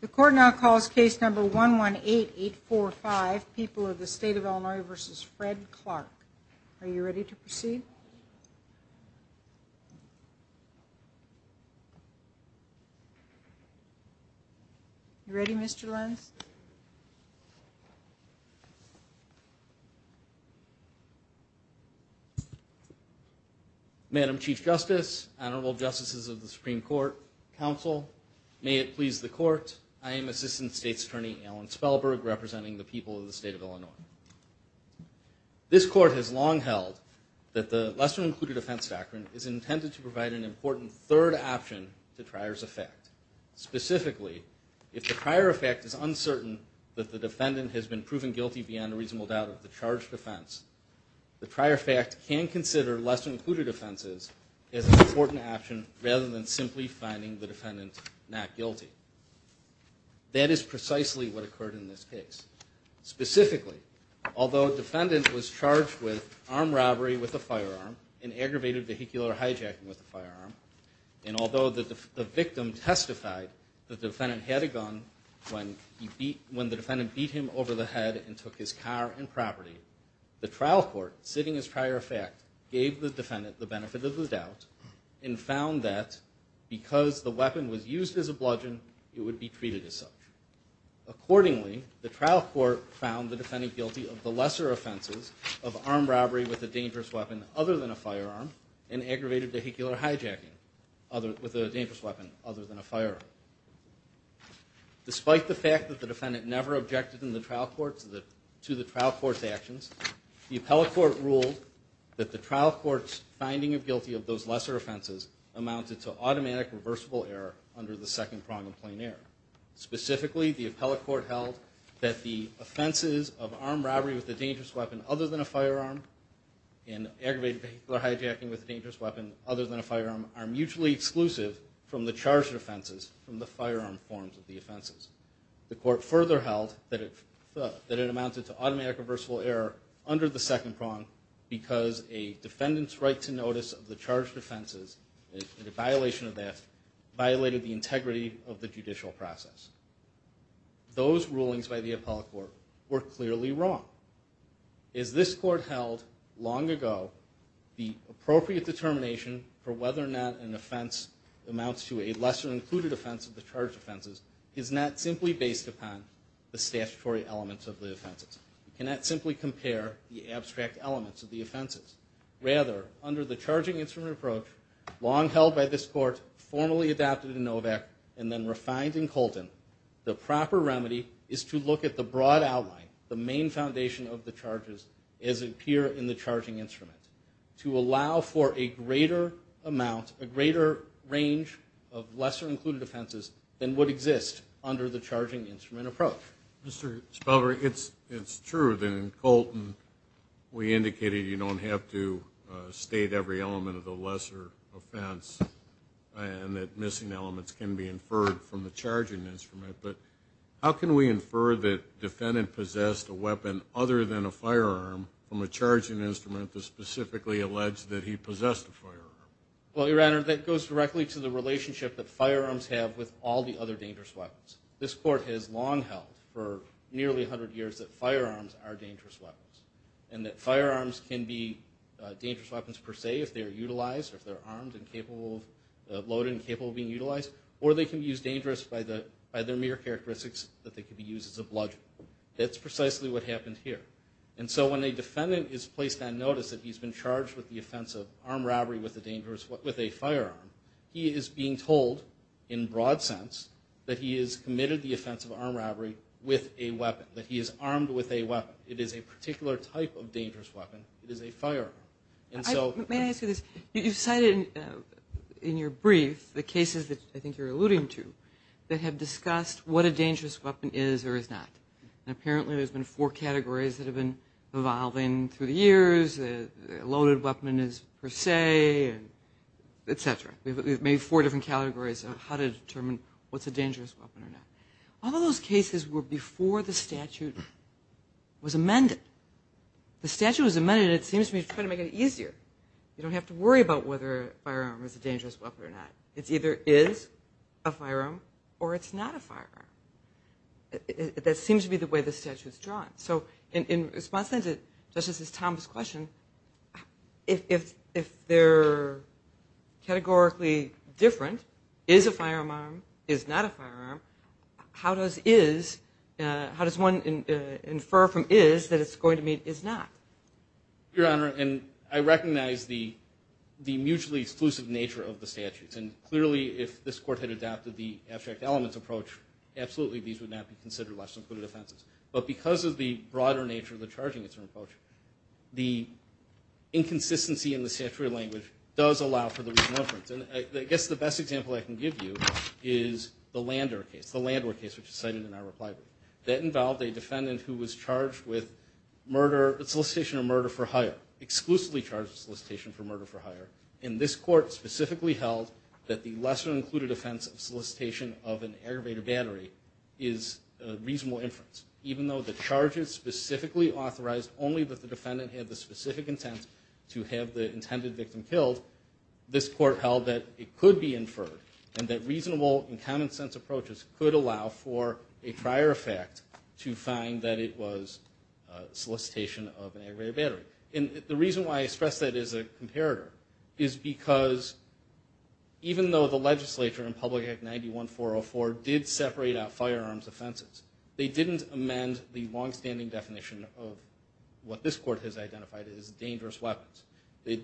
The court now calls case number 118845, People of the State of Illinois v. Fred Clark. Are you ready to proceed? Madam Chief Justice, Honorable Justices of the Supreme Court, Counsel, may it please the Court, I am Assistant State's Attorney Alan Spellberg, representing the People of the State of Illinois. This Court has long held that the Lesser Included Offense Factor is intended to provide an important third option to trier's effect. Specifically, if the trier effect is uncertain that the defendant has been proven guilty beyond a reasonable doubt of the charged offense, the trier fact can consider lesser included offenses as an important option rather than simply finding the defendant not guilty. That is precisely what occurred in this case. Specifically, although a defendant was charged with armed robbery with a firearm and aggravated vehicular hijacking with a firearm, and although the victim testified the defendant had a gun when the defendant beat him over the head and took his car and property, the trial court, sitting as trier effect, gave the defendant the benefit of the doubt and found that because the weapon was used as a bludgeon, it would be treated as such. Accordingly, the trial court found the defendant guilty of the lesser offenses of armed robbery with a dangerous weapon other than a firearm and aggravated vehicular hijacking with a dangerous weapon other than a firearm. Despite the fact that the defendant never objected to the trial court's actions, the appellate court ruled that the trial court's finding of guilty of those lesser offenses amounted to automatic reversible error under the second prong of plain error. Specifically, the appellate court held that the offenses of armed robbery with a dangerous weapon other than a firearm and aggravated vehicular hijacking with a dangerous weapon other than a firearm are mutually exclusive from the charged offenses from the firearm forms of the offenses. The court further held that it amounted to automatic reversible error under the second prong because a defendant's right to notice of the charged offenses and the violation of that violated the integrity of the judicial process. Those rulings by the appellate court were clearly wrong. As this court held long ago, the appropriate determination for whether or not an offense amounts to a lesser included offense of the charged offenses is not simply based upon the statutory elements of the offenses. You cannot simply compare the abstract elements of the offenses. Rather, under the charging instrument approach, long held by this court, formally adopted in Novak, and then refined in Colton, the proper remedy is to look at the broad outline, the main foundation of the charges, as appear in the charging instrument to allow for a greater amount, a greater range of lesser included offenses than would exist under the charging instrument approach. Mr. Spelver, it's true that in Colton we indicated you don't have to state every element of the can be inferred from the charging instrument, but how can we infer that the defendant possessed a weapon other than a firearm from a charging instrument that specifically alleged that he possessed a firearm? Well, Your Honor, that goes directly to the relationship that firearms have with all the other dangerous weapons. This court has long held for nearly 100 years that firearms are dangerous weapons and that firearms can be dangerous weapons per se if they are utilized or if they're armed and capable of, loaded and capable of being utilized, or they can be used dangerous by their mere characteristics that they can be used as a bludgeon. That's precisely what happened here. And so when a defendant is placed on notice that he's been charged with the offense of armed robbery with a dangerous, with a firearm, he is being told, in broad sense, that he is committed the offense of armed robbery with a weapon, that he is armed with a weapon. It is a particular type of dangerous weapon. It is a firearm. And so... May I ask you this? You've cited in your brief the cases that I think you're alluding to that have discussed what a dangerous weapon is or is not, and apparently there's been four categories that have been evolving through the years, a loaded weapon is per se, et cetera. We've made four different categories of how to determine what's a dangerous weapon or not. All of those cases were before the statute was amended. The statute was amended, and it seems to be trying to make it easier. You don't have to worry about whether a firearm is a dangerous weapon or not. It's either is a firearm or it's not a firearm. That seems to be the way the statute's drawn. So in response to Justice Thomas' question, if they're categorically different, is a firearm, is not a firearm, how does is, how does one infer from is that it's going to mean is not? Your Honor, and I recognize the mutually exclusive nature of the statutes, and clearly if this court had adapted the abstract elements approach, absolutely these would not be considered less than putative offenses. But because of the broader nature of the charging it's own approach, the inconsistency in the statutory language does allow for the re-conference, and I guess the best example I can give you is the Lander case, the Lander case which is cited in our reply brief. That involved a defendant who was charged with murder, solicitation of murder for hire, exclusively charged with solicitation for murder for hire, and this court specifically held that the lesser included offense of solicitation of an aggravated battery is a reasonable inference. Even though the charges specifically authorized only that the defendant had the specific intent to have the intended victim killed, this court held that it could be inferred, and that reasonable and common sense approaches could allow for a prior effect to find that it was solicitation of an aggravated battery. And the reason why I stress that as a comparator is because even though the legislature in Public Act 91404 did separate out firearms offenses, they didn't amend the longstanding definition of what this court has identified as dangerous weapons. The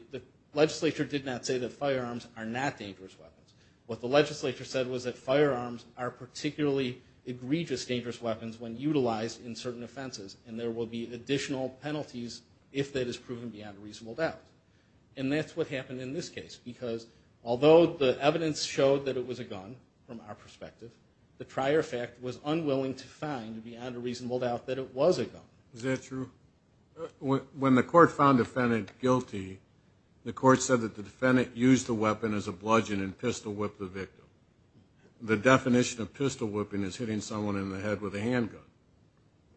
legislature did not say that firearms are not dangerous weapons. What the legislature said was that firearms are particularly egregious dangerous weapons when utilized in certain offenses, and there will be additional penalties if that is proven beyond a reasonable doubt. And that's what happened in this case, because although the evidence showed that it was a gun from our perspective, the prior fact was unwilling to find beyond a reasonable doubt that it was a gun. Is that true? When the court found the defendant guilty, the court said that the defendant used the weapon as a bludgeon and pistol-whipped the victim. The definition of pistol-whipping is hitting someone in the head with a handgun.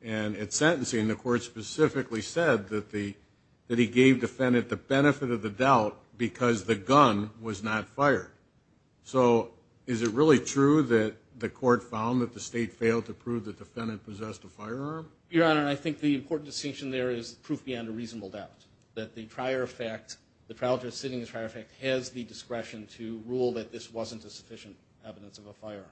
And at sentencing, the court specifically said that he gave the defendant the benefit of the doubt because the gun was not fired. So is it really true that the court found that the state failed to prove the defendant possessed a firearm? Your Honor, I think the important distinction there is proof beyond a reasonable doubt, that the trial judge sitting in the prior effect has the discretion to rule that this wasn't a sufficient evidence of a firearm.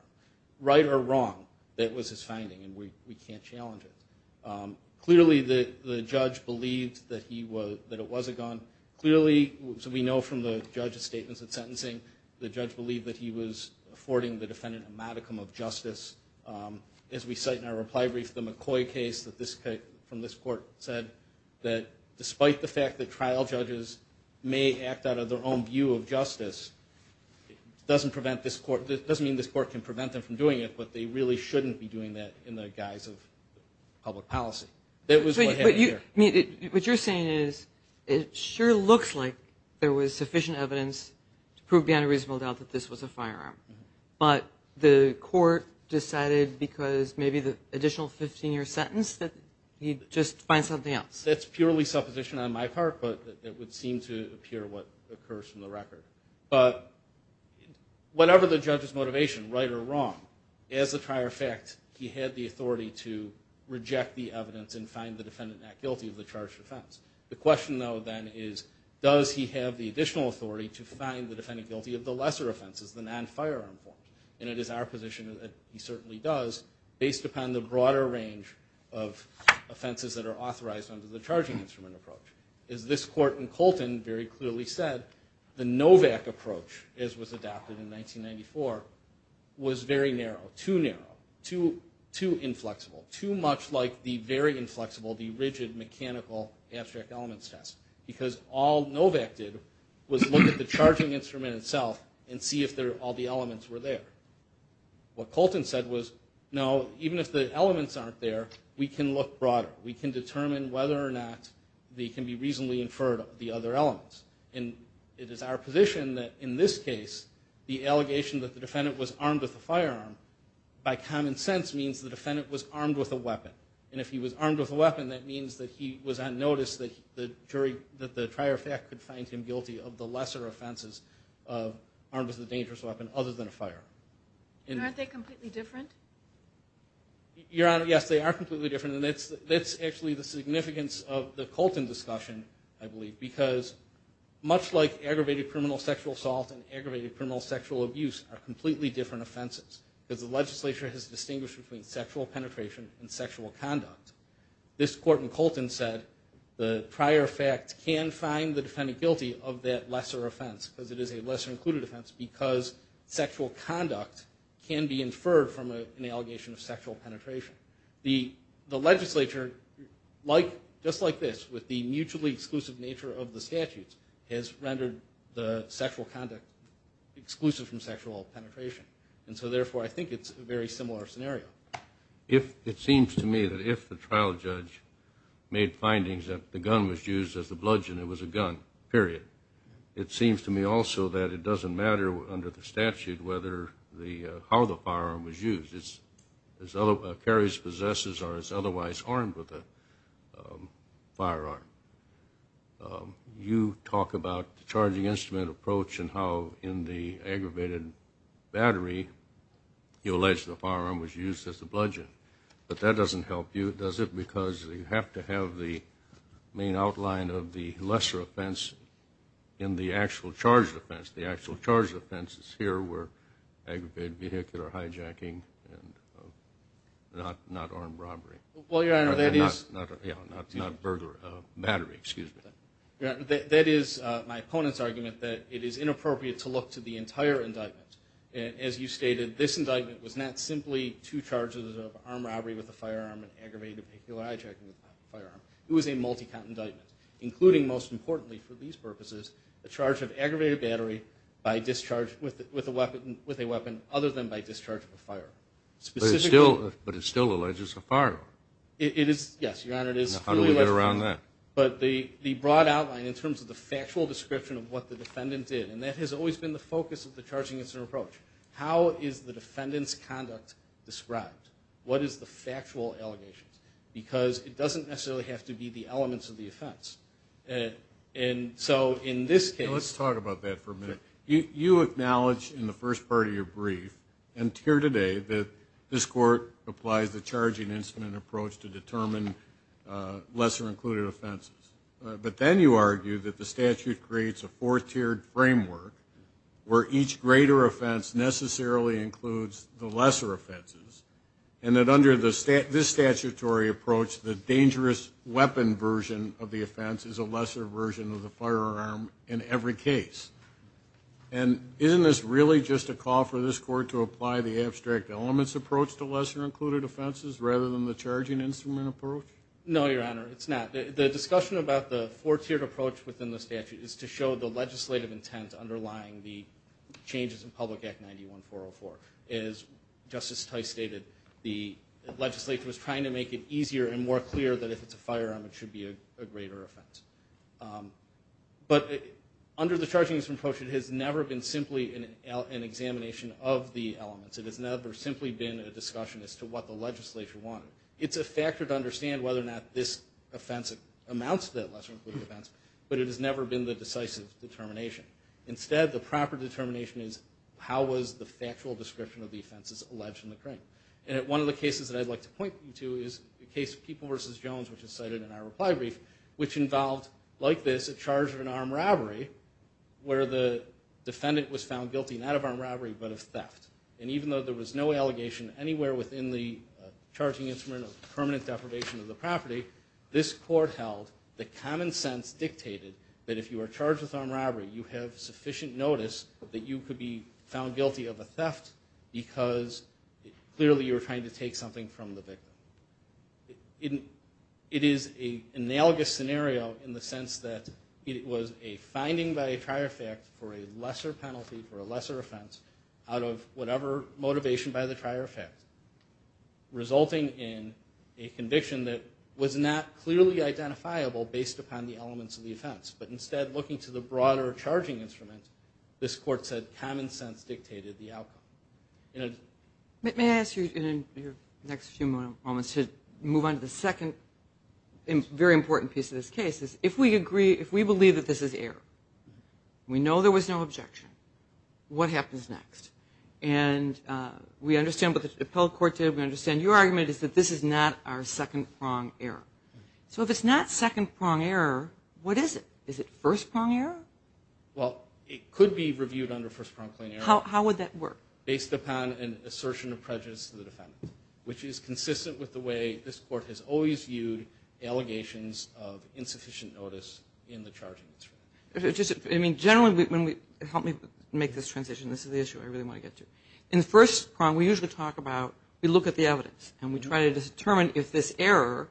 Right or wrong, that was his finding, and we can't challenge it. Clearly the judge believed that it was a gun. Clearly, so we know from the judge's statements at sentencing, the judge believed that he was affording the defendant a modicum of justice. As we cite in our reply brief, the McCoy case from this court said that despite the fact that trial judges may act out of their own view of justice, doesn't mean this court can prevent them from doing it, but they really shouldn't be doing that in the guise of public policy. That was what happened here. But what you're saying is, it sure looks like there was sufficient evidence to prove beyond a reasonable doubt that this was a firearm, but the court decided because maybe the additional 15-year sentence, that you'd just find something else. That's purely supposition on my part, but it would seem to appear what occurs from the record. But whatever the judge's motivation, right or wrong, as a prior effect, he had the authority to reject the evidence and find the defendant not guilty of the charged offense. The question though then is, does he have the additional authority to find the defendant guilty of the lesser offenses, the non-firearm form? And it is our position that he certainly does, based upon the broader range of offenses that are authorized under the charging instrument approach. As this court in Colton very clearly said, the NOVAC approach, as was adopted in 1994, was very narrow, too narrow, too inflexible, too much like the very inflexible, the rigid mechanical abstract elements test. Because all NOVAC did was look at the charging instrument itself and see if all the elements were there. What Colton said was, no, even if the elements aren't there, we can look broader. We can determine whether or not they can be reasonably inferred, the other elements. And it is our position that in this case, the allegation that the defendant was armed with a firearm, by common sense, means the defendant was armed with a weapon. And if he was armed with a weapon, that means that he was on notice that the jury, that the trier fact could find him guilty of the lesser offenses armed with a dangerous weapon other than a fire. And aren't they completely different? Your Honor, yes, they are completely different, and that's actually the significance of the Colton discussion, I believe, because much like aggravated criminal sexual assault and aggravated criminal sexual abuse are completely different offenses, because the legislature has distinguished between sexual penetration and sexual conduct. This Court in Colton said the trier fact can find the defendant guilty of that lesser offense, because it is a lesser included offense, because sexual conduct can be inferred from an allegation of sexual penetration. The legislature, just like this, with the mutually exclusive nature of the statutes, has rendered the sexual conduct exclusive from sexual penetration. And so, therefore, I think it's a very similar scenario. It seems to me that if the trial judge made findings that the gun was used as the bludgeon, it was a gun, period. It seems to me also that it doesn't matter under the statute whether the, how the firearm was used. It's, as other, a carry's possessors are as otherwise armed with a firearm. You talk about the charging instrument approach and how in the aggravated battery, you allege the firearm was used as the bludgeon. But that doesn't help you, does it? Because you have to have the main outline of the lesser offense in the actual charged offense. The actual charged offenses here were aggravated vehicular hijacking and not armed robbery. Well, Your Honor, that is... Not burger, battery, excuse me. That is my opponent's argument that it is inappropriate to look to the entire indictment. As you stated, this indictment was not simply two charges of armed robbery with a firearm and aggravated vehicular hijacking with a firearm. It was a multi-count indictment, including, most importantly for these purposes, the charge of aggravated battery by discharge with a weapon other than by discharge of a firearm. But it still alleges a firearm. It is, yes, Your Honor, it is. How do we get around that? But the broad outline in terms of the factual description of what the defendant did, and that has always been the focus of the charging instrument approach. How is the defendant's conduct described? What is the factual allegations? Because it doesn't necessarily have to be the elements of the offense. And so in this case... Let's talk about that for a minute. You acknowledge in the first part of your brief and here today that this court applies the charging instrument approach to determine lesser-included offenses. But then you argue that the statute creates a fourth-tiered framework where each greater offense necessarily includes the lesser offenses, and that under this statutory approach the dangerous weapon version of the offense is a lesser version of the firearm in every case. And isn't this really just a call for this court to apply the abstract elements approach to lesser-included offenses rather than the charging instrument approach? No, Your Honor, it's not. The discussion about the four-tiered approach within the statute is to show the legislative intent underlying the changes in Public Act 91404. As Justice Tice stated, the legislature was trying to make it easier and more clear that if it's a firearm it should be a greater offense. But under the charging instrument approach it has never been simply an examination of the elements. It has never simply been a discussion as to what the legislature wanted. It's a factor to understand whether or not this offense amounts to that lesser-included offense, but it has never been the decisive determination. Instead the proper determination is how was the factual description of the offenses alleged in the crime. And one of the cases that I'd like to point you to is the case of People v. Jones, which is cited in our reply brief, which involved, like this, a charge of an armed robbery where the defendant was found guilty not of armed robbery but of theft. And even though there was no allegation anywhere within the charging instrument of permanent deprivation of the property, this court held that common sense dictated that if you are charged with armed robbery you have sufficient notice that you could be found guilty of a theft because clearly you were trying to take something from the victim. It is an analogous scenario in the sense that it was a finding by a trier fact for a lesser penalty for a lesser offense out of whatever motivation by the trier effect resulting in a conviction that was not clearly identifiable based upon the elements of the offense. But instead looking to the broader charging instrument, this court said common sense dictated the outcome. May I ask you in your next few moments to move on to the second very important piece of this case. If we believe that this is error, we know there was no objection, what happens next? And we understand what the appellate court did, we understand your argument is that this is not our second prong error. So if it's not second prong error, what is it? Is it first prong error? Well, it could be reviewed under first prong claim error. How would that work? Based upon an assertion of prejudice to the defendant, which is consistent with the way that this court has always viewed allegations of insufficient notice in the charging instrument. I mean, generally, help me make this transition, this is the issue I really want to get to. In the first prong, we usually talk about, we look at the evidence and we try to determine if this error,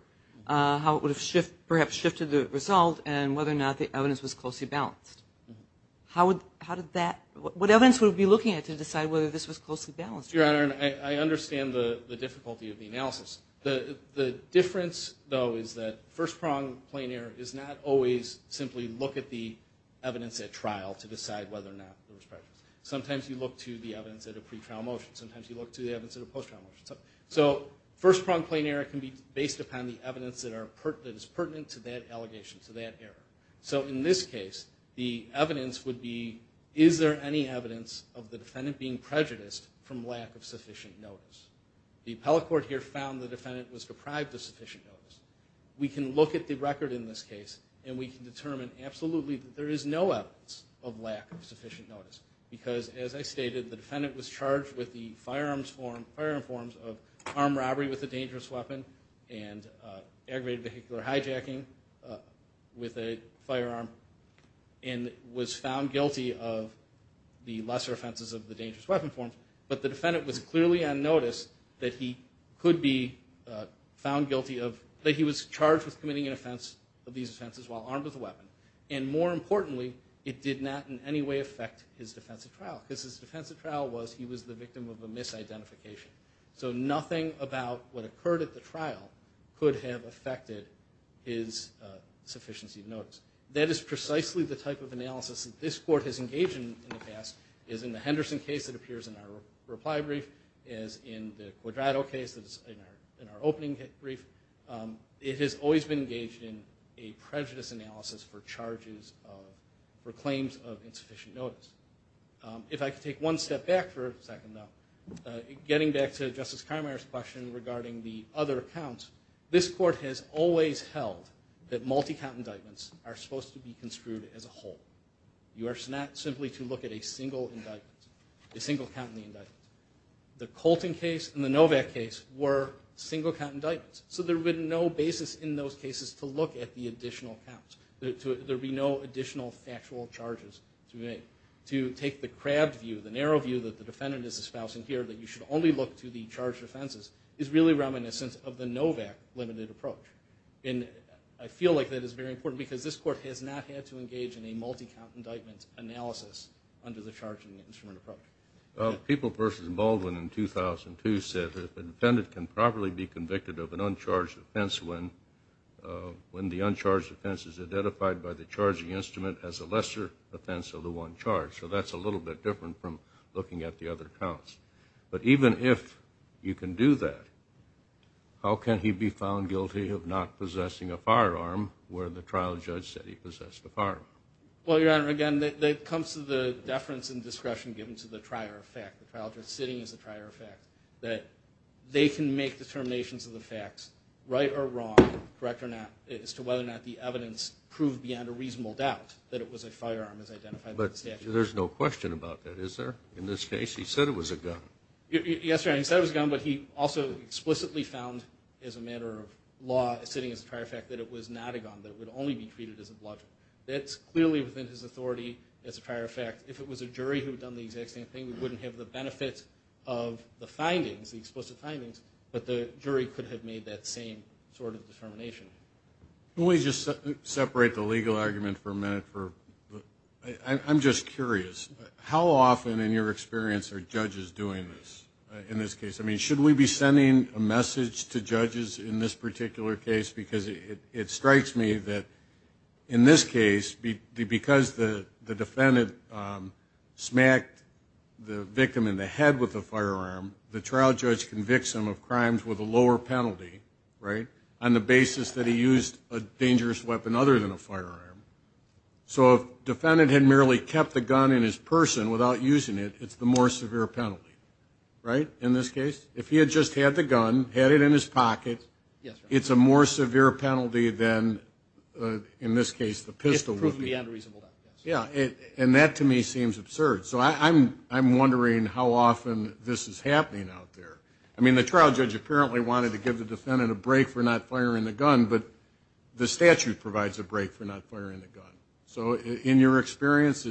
how it would have perhaps shifted the result and whether or not the evidence was closely balanced. How would that, what evidence would we be looking at to decide whether this was closely balanced? Mr. Your Honor, I understand the difficulty of the analysis. The difference, though, is that first prong claim error is not always simply look at the evidence at trial to decide whether or not there was prejudice. Sometimes you look to the evidence at a pretrial motion, sometimes you look to the evidence at a post-trial motion. So first prong claim error can be based upon the evidence that is pertinent to that allegation, to that error. So in this case, the evidence would be, is there any evidence of the defendant being prejudiced from lack of sufficient notice? The appellate court here found the defendant was deprived of sufficient notice. We can look at the record in this case and we can determine absolutely that there is no evidence of lack of sufficient notice because, as I stated, the defendant was charged with the firearm forms of armed robbery with a dangerous weapon and aggravated vehicular hijacking with a firearm and was found guilty of the lesser offenses of the dangerous weapon forms. But the defendant was clearly on notice that he could be found guilty of, that he was charged with committing an offense of these offenses while armed with a weapon. And more importantly, it did not in any way affect his defense at trial because his defense at trial was he was the victim of a misidentification. So nothing about what occurred at the trial could have affected his sufficiency of notice. That is precisely the type of analysis that this court has engaged in in the past is in the Henderson case that appears in our reply brief, is in the Quadrado case that is in our opening brief. It has always been engaged in a prejudice analysis for charges of, for claims of insufficient notice. If I could take one step back for a second though, getting back to Justice Karmeier's question regarding the other counts, this court has always held that multi-count indictments are supposed to be construed as a whole. You are not simply to look at a single indictment, a single count in the indictment. The Colton case and the Novak case were single-count indictments. So there would be no basis in those cases to look at the additional counts. There would be no additional factual charges to make. To take the crab view, the narrow view that the defendant is espoused in here that you should only look to the charged offenses is really reminiscent of the Novak limited approach. And I feel like that is very important because this court has not had to engage in a multi-count indictment analysis under the charging instrument approach. People versus Baldwin in 2002 said that the defendant can properly be convicted of an uncharged offense when the uncharged offense is identified by the charging instrument as a lesser offense of the one charged. So that's a little bit different from looking at the other counts. But even if you can do that, how can he be found guilty of not possessing a firearm where the trial judge said he possessed a firearm? Well, Your Honor, again, that comes to the deference and discretion given to the trier of fact. The trial judge sitting is the trier of fact. That they can make determinations of the facts, right or wrong, correct or not, as to whether or not the evidence proved beyond a reasonable doubt that it was a firearm as identified by the statute. But there's no question about that, is there? In this case, he said it was a gun. Yes, Your Honor. He said it was a gun, but he also explicitly found as a matter of law sitting as a trier of fact that it was not a gun, that it would only be treated as a bludgeon. That's clearly within his authority as a trier of fact. If it was a jury who had done the exact same thing, we wouldn't have the benefits of the findings, the explicit findings, but the jury could have made that same sort of determination. Can we just separate the legal argument for a minute? I'm just curious. How often, in your experience, are judges doing this? In this case? I mean, should we be sending a message to judges in this particular case? Because it strikes me that in this case, because the defendant smacked the victim in the head with a firearm, the trial judge convicts him of crimes with a lower penalty, right, on the basis that he used a dangerous weapon other than a firearm. So if the defendant had merely kept the gun in his person without using it, it's the more severe penalty, right, in this case? If he had just had the gun, had it in his pocket, it's a more severe penalty than, in this case, the pistol would be. It's proof beyond reasonable doubt, yes. Yeah. And that, to me, seems absurd. So I'm wondering how often this is happening out there. I mean, the trial judge apparently wanted to give the defendant a break for not firing the gun, but the statute provides a break for not firing the gun. So in your experience,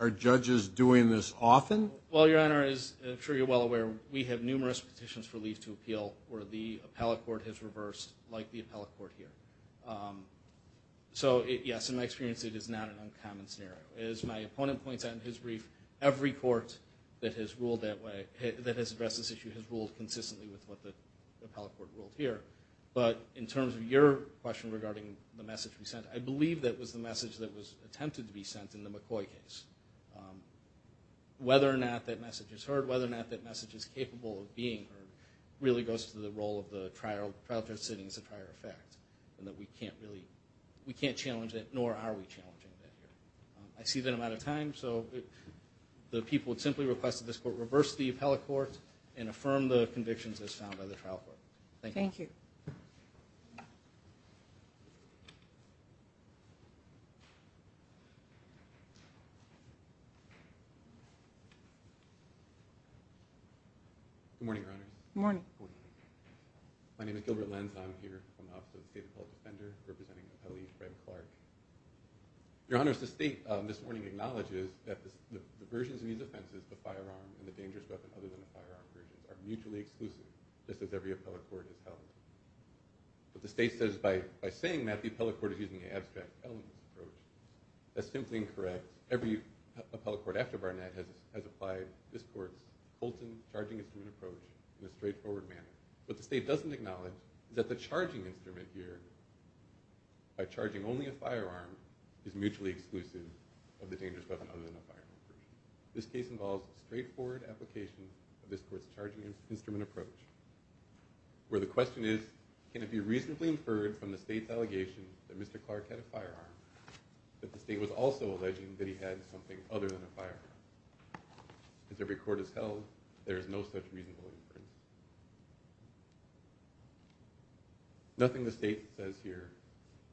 are judges doing this often? Well, Your Honor, as I'm sure you're well aware, we have numerous petitions for leave to appeal where the appellate court has reversed, like the appellate court here. So yes, in my experience, it is not an uncommon scenario. As my opponent points out in his brief, every court that has ruled that way, that has addressed this issue, has ruled consistently with what the appellate court ruled here. But in terms of your question regarding the message we sent, I believe that was the message that was attempted to be sent in the McCoy case. Whether or not that message is heard, whether or not that message is capable of being heard, really goes to the role of the trial judge sitting as a prior effect, and that we can't really, we can't challenge that, nor are we challenging that here. I see that I'm out of time, so the people would simply request that this court reverse the appellate court and affirm the convictions as found by the trial court. Thank you. Good morning, Your Honors. Good morning. My name is Gilbert Lenz, and I'm here on behalf of the State Appellate Defender, representing Appellee Fred Clark. Your Honors, the State, this morning, acknowledges that the versions of these offenses, the firearm and the dangerous weapon, other than the firearm versions, are mutually exclusive. Just as every appellate court is held. But the State says, by saying that, the appellate court is using an abstract elements approach. That's simply incorrect. Every appellate court after Barnett has applied this court's Colton charging instrument approach in a straightforward manner. What the State doesn't acknowledge is that the charging instrument here, by charging only a firearm, is mutually exclusive of the dangerous weapon other than a firearm version. This case involves a straightforward application of this court's charging instrument approach. Where the question is, can it be reasonably inferred from the State's allegation that Mr. Clark had a firearm, that the State was also alleging that he had something other than a firearm. As every court is held, there is no such reasonable inference. Nothing the State says here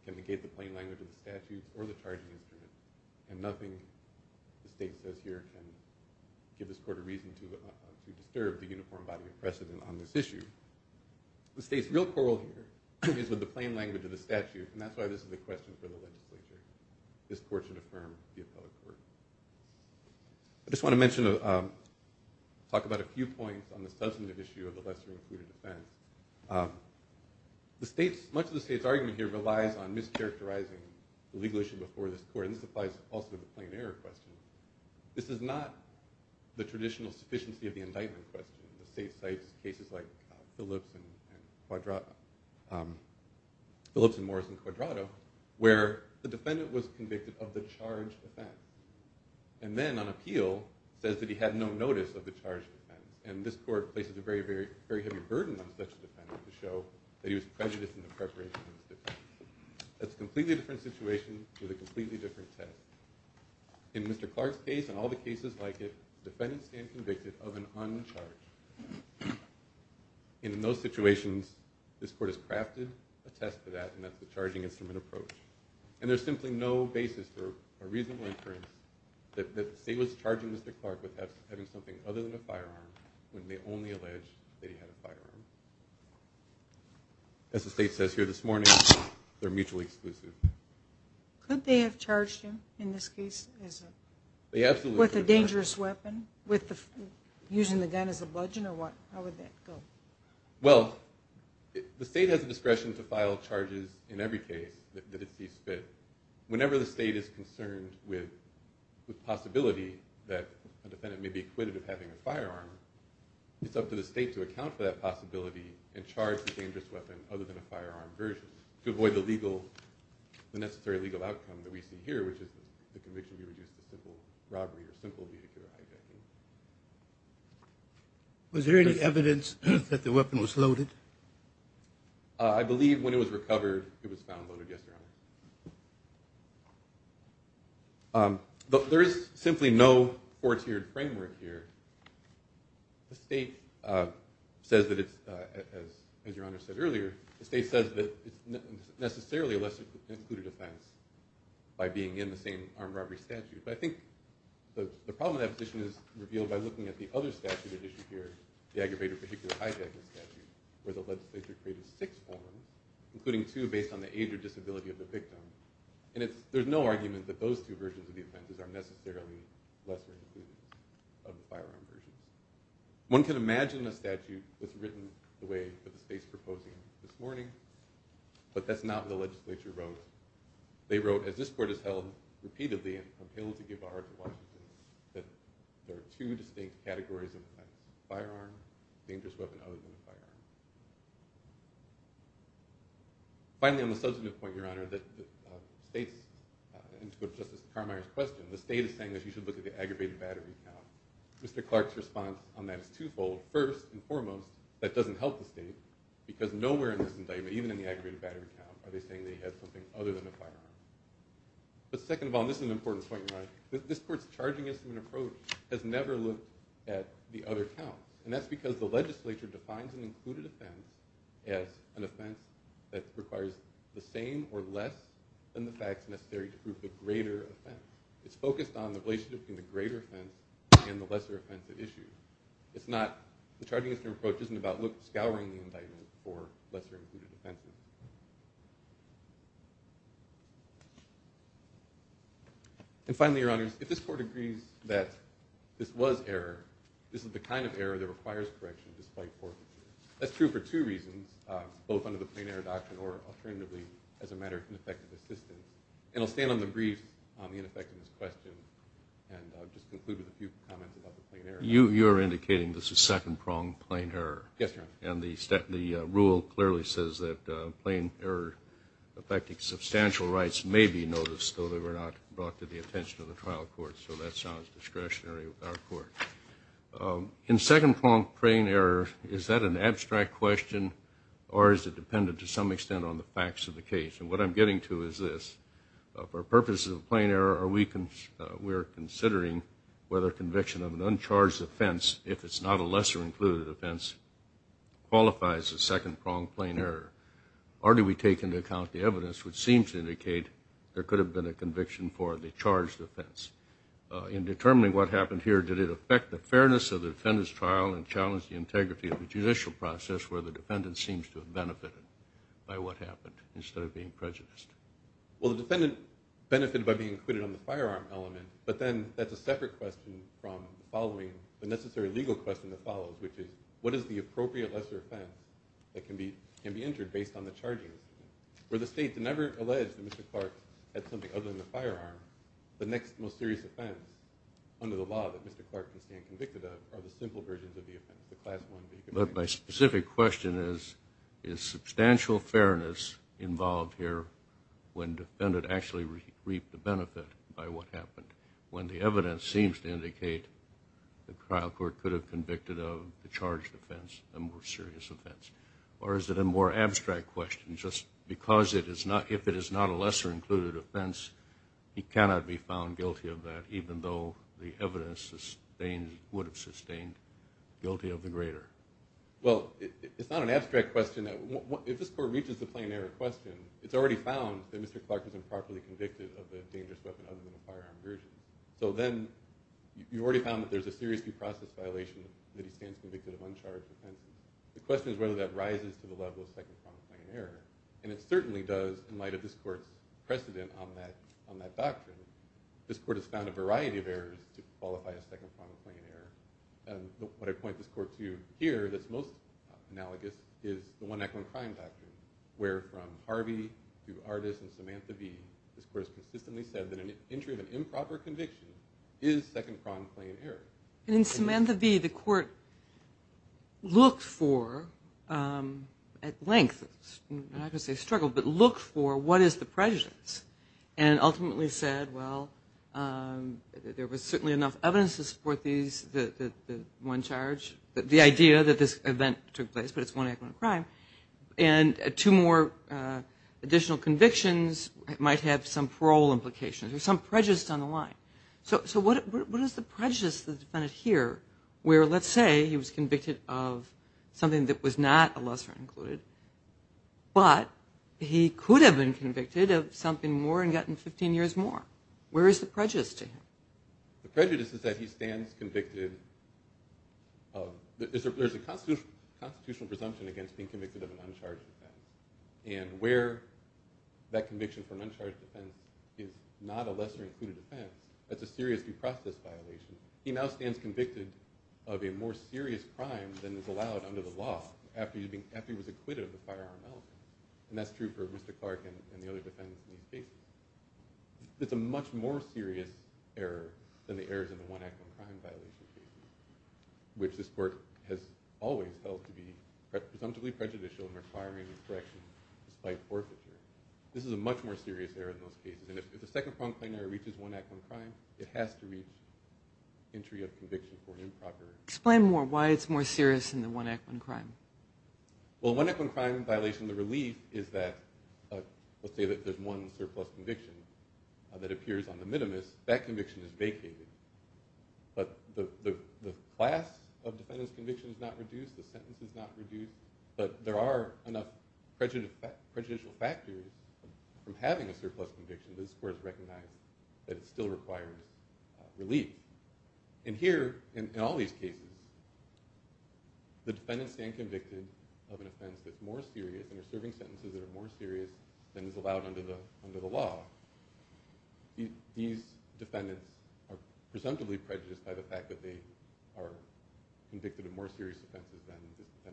can negate the plain language of the statutes or the charging instrument. And nothing the State says here can give this court a reason to disturb the uniform body of precedent on this issue. The State's real quarrel here is with the plain language of the statute. And that's why this is a question for the legislature. This court should affirm the appellate court. I just want to mention, talk about a few points on the substantive issue of the lesser included defense. The State's, much of the State's argument here relies on mischaracterizing the legal issue before this court. And this applies also to the plain error question. This is not the traditional sufficiency of the indictment question. The State cites cases like Phillips and Morrison-Quadrado, where the defendant was convicted of the charged offense. And then on appeal, says that he had no notice of the charged offense. And this court places a very, very heavy burden on such a defendant to show that he was prejudiced in the preparation of his defense. That's a completely different situation with a completely different test. In Mr. Clark's case and all the cases like it, defendants stand convicted of an uncharged. In those situations, this court has crafted a test for that, and that's the charging instrument approach. And there's simply no basis for a reasonable inference that the State was charging Mr. Clark with having something other than a firearm when they only allege that he had a firearm. As the State says here this morning, they're mutually exclusive. Could they have charged him, in this case, with a dangerous weapon, using the gun as a bludgeon or what? How would that go? Well, the State has the discretion to file charges in every case that it sees fit. Whenever the State is concerned with the possibility that a defendant may be acquitted of having a firearm, it's up to the State to account for that possibility and charge the dangerous weapon other than a firearm version to avoid the necessary legal outcome that we see here, which is the conviction to be reduced to simple robbery or simple vehicular hijacking. Was there any evidence that the weapon was loaded? I believe when it was recovered, it was found loaded, yes, Your Honor. There is simply no four-tiered framework here. The State says that it's, as Your Honor said earlier, the State says that it's necessarily a less-included offense by being in the same armed robbery statute. But I think the problem with that position is revealed by looking at the other statute at issue here, the aggravated vehicular hijacking statute, where the legislature created six versions of the offense, including two based on the age or disability of the victim. And there's no argument that those two versions of the offenses are necessarily less-included of the firearm versions. One can imagine a statute that's written the way that the State's proposing it this morning, but that's not what the legislature wrote. They wrote, as this Court has held repeatedly and I'm compelled to give our heart to Washington, that there are two distinct categories of an offense, a firearm and a dangerous weapon other than a firearm. Finally, on the substantive point, Your Honor, that states, in terms of Justice Carmeier's question, the State is saying that you should look at the aggravated battery count. Mr. Clark's response on that is twofold. First and foremost, that doesn't help the State, because nowhere in this indictment, even in the aggravated battery count, are they saying that he had something other than a firearm. But second of all, and this is an important point, Your Honor, this Court's charging estimate approach has never looked at the other counts. And that's because the legislature defines an included offense as an offense that requires the same or less than the facts necessary to prove the greater offense. It's focused on the relationship between the greater offense and the lesser offense at issue. The charging estimate approach isn't about scouring the indictment for lesser-included offenses. And finally, Your Honor, if this Court agrees that this was error, this is the kind of error that requires correction despite fortitude. That's true for two reasons, both under the Plain Error Doctrine or alternatively, as a matter of ineffective assistance. And I'll stand on the brief on the ineffectiveness question and just conclude with a few comments about the Plain Error Doctrine. You're indicating this is second-pronged Plain Error? Yes, Your Honor. And the rule clearly says that Plain Error affecting substantial rights may be noticed, though they were not brought to the attention of the trial court. So that sounds discretionary with our Court. In second-pronged Plain Error, is that an abstract question or is it dependent to some extent on the facts of the case? And what I'm getting to is this. For purposes of Plain Error, we're considering whether conviction of an uncharged offense, if it's not a lesser-included offense, qualifies as second-pronged Plain Error. Or do we take into account the evidence which seems to indicate there could have been a conviction for the charged offense? In determining what happened here, did it affect the fairness of the defendant's trial and challenge the integrity of the judicial process where the defendant seems to have benefited by what happened instead of being prejudiced? Well, the defendant benefited by being included on the firearm element, but then that's a separate question from the necessary legal question that follows, which is what is the appropriate lesser offense that can be entered based on the charges? Where the state never alleged that Mr. Clark had something other than the firearm, the next most serious offense under the law that Mr. Clark can stand convicted of are the simple versions of the offense, the Class I. But my specific question is is substantial fairness involved here when the defendant actually reaped the benefit by what happened? When the evidence seems to indicate the trial court could have convicted of the charged offense, the more serious offense? Or is it a more abstract question just because if it is not a lesser included offense he cannot be found guilty of that even though the evidence would have sustained guilty of the greater? Well, it's not an abstract question. If this court reaches the Plain Error question, it's already found that Mr. Clark was improperly convicted of the dangerous weapon other than the firearm version. So then you've already found that there's a serious entry process violation that he stands convicted of uncharged offenses. The question is whether that rises to the level of Second Pronged Plain Error. And it certainly does in light of this court's precedent on that doctrine. This court has found a variety of errors to qualify as Second Pronged Plain Error. What I point this court to here that's most analogous is the One Act on Crime Doctrine, where from Harvey to Artis and Samantha V this court has consistently said that an entry of an improper conviction is Second Pronged Plain Error. And in Samantha V the court looked for, at length I'm not going to say struggled, but looked for what is the prejudice and ultimately said, well, there was certainly enough evidence to support these, the one charge, the idea that this event took place, but it's One Act on Crime, and two more additional convictions might have some parole implications or some prejudice on the line. So what is the prejudice here, where let's say he was convicted of something that was not a lesser included, but he could have been convicted of something more and gotten 15 years more. Where is the prejudice to him? The prejudice is that he stands convicted of, there's a constitutional presumption against being convicted of an uncharged offense. And where that conviction for an uncharged offense is not a lesser included offense, that's a serious due process violation. He now stands convicted of a more serious crime than is allowed under the law, after he was acquitted of the firearm allegation. And that's true for Mr. Clark and the other defendants in these cases. It's a much more serious error than the errors in the One Act on Crime violation case, which this court has always held to be presumptively prejudicial in requiring this correction despite forfeiture. This is a much more serious error in those cases. And if the second crime reaches One Act on Crime, it has to reach entry of conviction for an improper. Explain more why it's more serious than the One Act on Crime. Well, One Act on Crime violation of the relief is that let's say that there's one surplus conviction that appears on the minimus, that conviction is vacated. But the class of defendant's conviction is not reduced, the sentence is not reduced, but there are enough prejudicial factors from having a surplus conviction that this court has recognized that it still requires relief. And here, in all these cases, the defendants stand convicted of an offense that's more serious and are serving sentences that are more serious than is allowed under the law. These defendants are presumptively prejudiced by the fact that they are convicted of more serious offenses than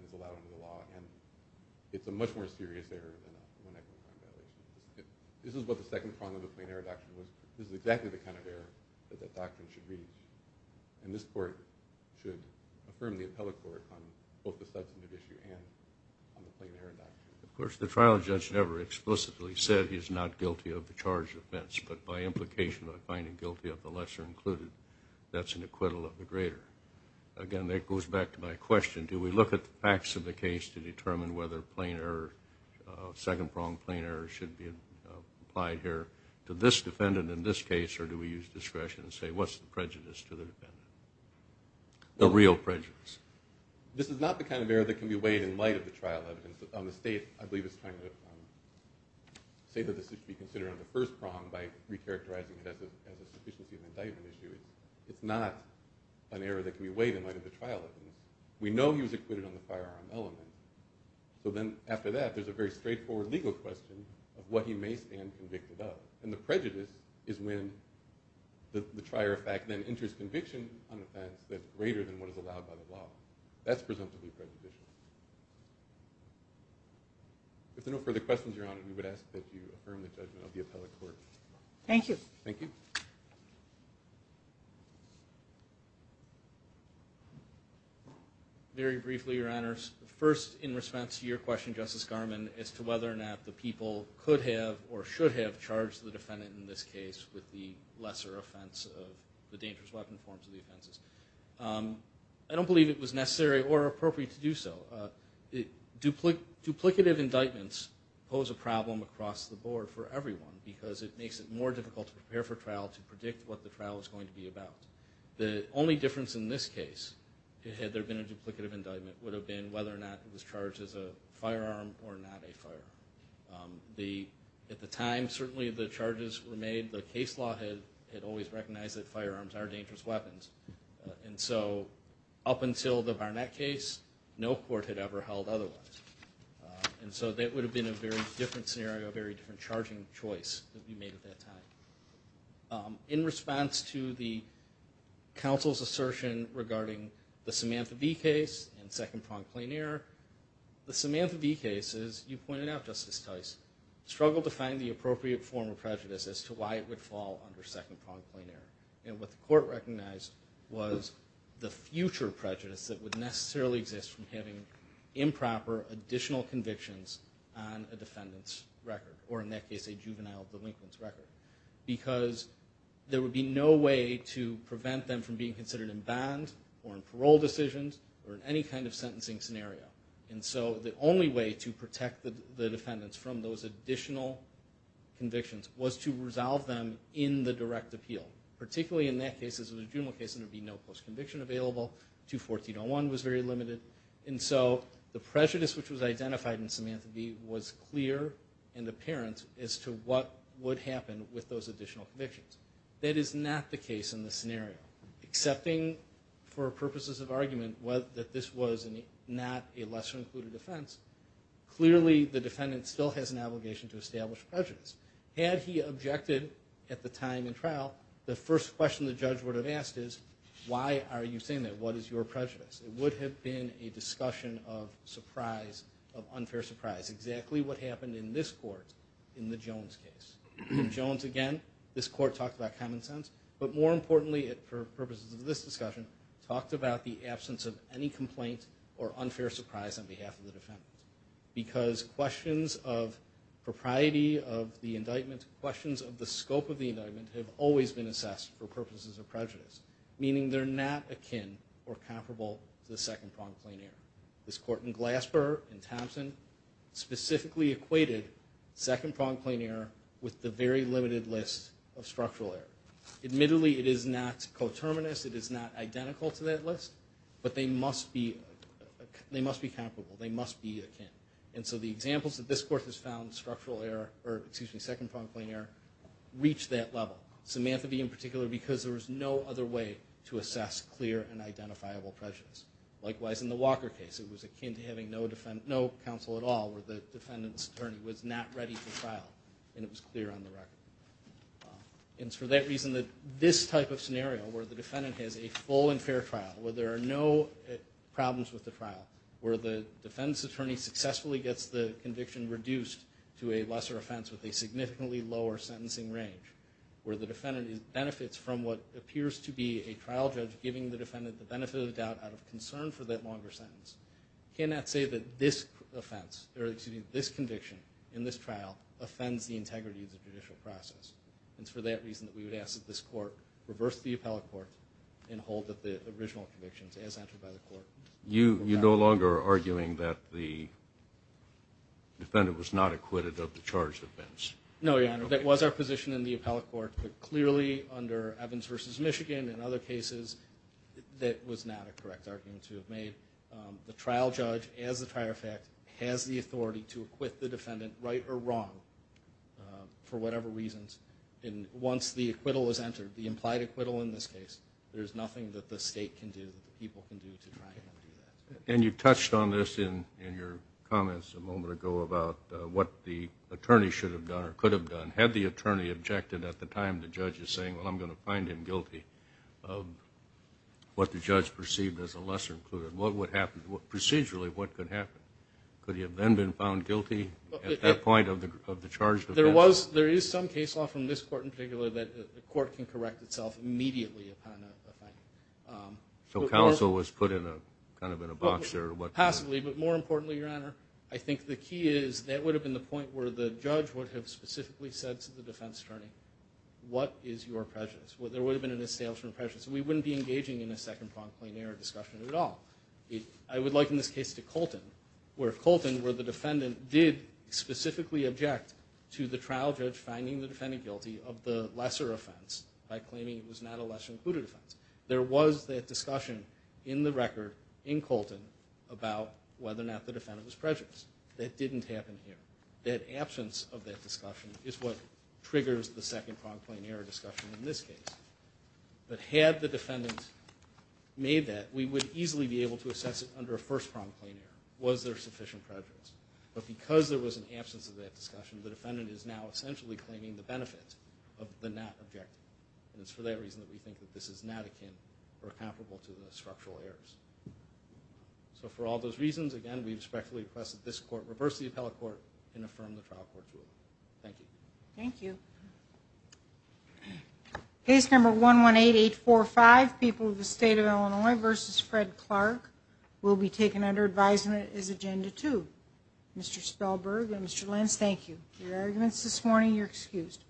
is allowed under the law. And it's a much more serious error than a One Act on Crime violation. This is what the second prong of the plain error doctrine was. This is exactly the kind of error that that doctrine should reach. And this court should affirm the appellate court on both the substantive issue and on the plain error doctrine. Of course, the trial judge never explicitly said he's not guilty of the charged offense, but by implication of finding guilty of the lesser included, that's an acquittal of the greater. Again, that goes back to my question. Do we look at the facts of the case to determine whether second prong plain error should be applied here to this defendant in this case, or do we use discretion and say, what's the prejudice to the defendant? The real prejudice. This is not the kind of error that can be weighed in light of the trial evidence. On the state, I believe it's trying to say that this should be considered on the first prong by recharacterizing it as a sufficiency of indictment issue. It's not an error that can be weighed in light of the trial evidence. We know he was acquitted on the firearm element. So then, after that, there's a very straightforward legal question of what he may stand convicted of. And the prejudice is when the trier of fact then enters conviction on offense that's greater than what is allowed by the law. That's presumptively prejudicial. If there are no further questions, Your Honor, we would ask that you affirm the judgment of the appellate court. Thank you. Thank you. Very briefly, Your Honors. First, in response to your question, Justice Garmon, as to whether or not the people could have or should have charged the defendant in this case with the lesser offense of the dangerous weapon forms of the offenses. I don't believe it was necessary or appropriate to do so. Duplicative indictments pose a problem across the board for trial to predict what the trial is going to be about. The only difference in this case, had there been a duplicative indictment, would have been whether or not it was charged as a firearm or not a firearm. At the time, certainly, the charges were made. The case law had always recognized that firearms are dangerous weapons. And so up until the Barnett case, no court had ever held otherwise. And so that would have been a very different scenario, a very different charging choice that we made at that time. In response to the counsel's assertion regarding the Samantha B case and second pronged plain error, the Samantha B case, as you pointed out, Justice Tice, struggled to find the appropriate form of prejudice as to why it would fall under second pronged plain error. And what the court recognized was the future prejudice that would necessarily exist from having improper additional convictions on a juvenile delinquents record. Because there would be no way to prevent them from being considered in bond or in parole decisions or in any kind of sentencing scenario. And so the only way to protect the defendants from those additional convictions was to resolve them in the direct appeal. Particularly in that case, as it was a general case, there would be no post-conviction available. 214.01 was very limited. And so the prejudice which was identified in Samantha B was clear and apparent as to what would happen with those additional convictions. That is not the case in this scenario. Excepting for purposes of argument that this was not a lesser included offense, clearly the defendant still has an obligation to establish prejudice. Had he objected at the time in trial, the first question the judge would have asked is, why are you saying that? What is your prejudice? It would have been a discussion of surprise, of unfair surprise. Exactly what happened in this court in the Jones case. Jones, again, this court talked about common sense, but more importantly, for purposes of this discussion, talked about the absence of any complaint or unfair surprise on behalf of the defendant. Because questions of propriety of the indictment, questions of the scope of the indictment have always been assessed for purposes of prejudice. Meaning they're not akin or comparable to the second prompt plain error. This court in Glasper, in Thompson, specifically equated second prompt plain error with the very limited list of structural error. Admittedly it is not coterminous, it is not identical to that list, but they must be comparable. They must be akin. And so the examples that this court has found, second prompt plain error, reach that level. Samantha B in particular because there was no other way to assess clear and identifiable prejudice. Likewise in the Walker case, it was akin to having no counsel at all where the defendant's attorney was not ready for trial and it was clear on the record. And it's for that reason that this type of scenario where the defendant has a full and fair trial, where there are no problems with the trial, where the defendant's attorney successfully gets the conviction reduced to a lesser offense with a significantly lower sentencing range, where the defendant benefits from what appears to be a longer sentence, cannot say that this conviction in this trial offends the integrity of the judicial process. And it's for that reason that we would ask that this court reverse the appellate court and hold that the original convictions as entered by the court You're no longer arguing that the defendant was not acquitted of the charged offense? No, your honor. That was our position in the appellate court, but clearly under Evans v. Michigan and other cases that was not a correct argument to have made. The trial judge, as a prior fact, has the authority to acquit the defendant right or wrong for whatever reasons. And once the acquittal is entered, the implied acquittal in this case, there's nothing that the state can do, that the people can do to try and undo that. And you touched on this in your comments a moment ago about what the attorney should have done or could have done had the attorney objected at the time the judge is saying, well I'm going to what the judge perceived as a lesser included. What would happen? Procedurally what could happen? Could he have then been found guilty at that point of the charged offense? There is some case law from this court in particular that the court can correct itself immediately upon a finding. So counsel was put in a kind of a box there? Possibly, but more importantly your honor, I think the key is that would have been the point where the judge would have specifically said to the defense attorney, what is your prejudice? There would have been an establishment of prejudice. We wouldn't be engaging in a second prompt plain error discussion at all. I would liken this case to Colton, where Colton where the defendant did specifically object to the trial judge finding the defendant guilty of the lesser offense by claiming it was not a lesser included offense. There was that discussion in the record in Colton about whether or not the defendant was prejudiced. That didn't happen here. That absence of that discussion is what triggers the prejudice. But had the defendant made that, we would easily be able to assess it under a first prompt plain error. Was there sufficient prejudice? But because there was an absence of that discussion, the defendant is now essentially claiming the benefit of the not objective. And it's for that reason that we think this is not akin or comparable to the structural errors. So for all those reasons, again, we respectfully request that this court reverse the appellate court and affirm the trial court rule. Thank you. Thank you. Case number 118845 People of the State of Illinois v. Fred Clark will be taken under advisement as Agenda 2. Mr. Spellberg and Mr. Lenz, thank you. Your arguments this morning, you're excused.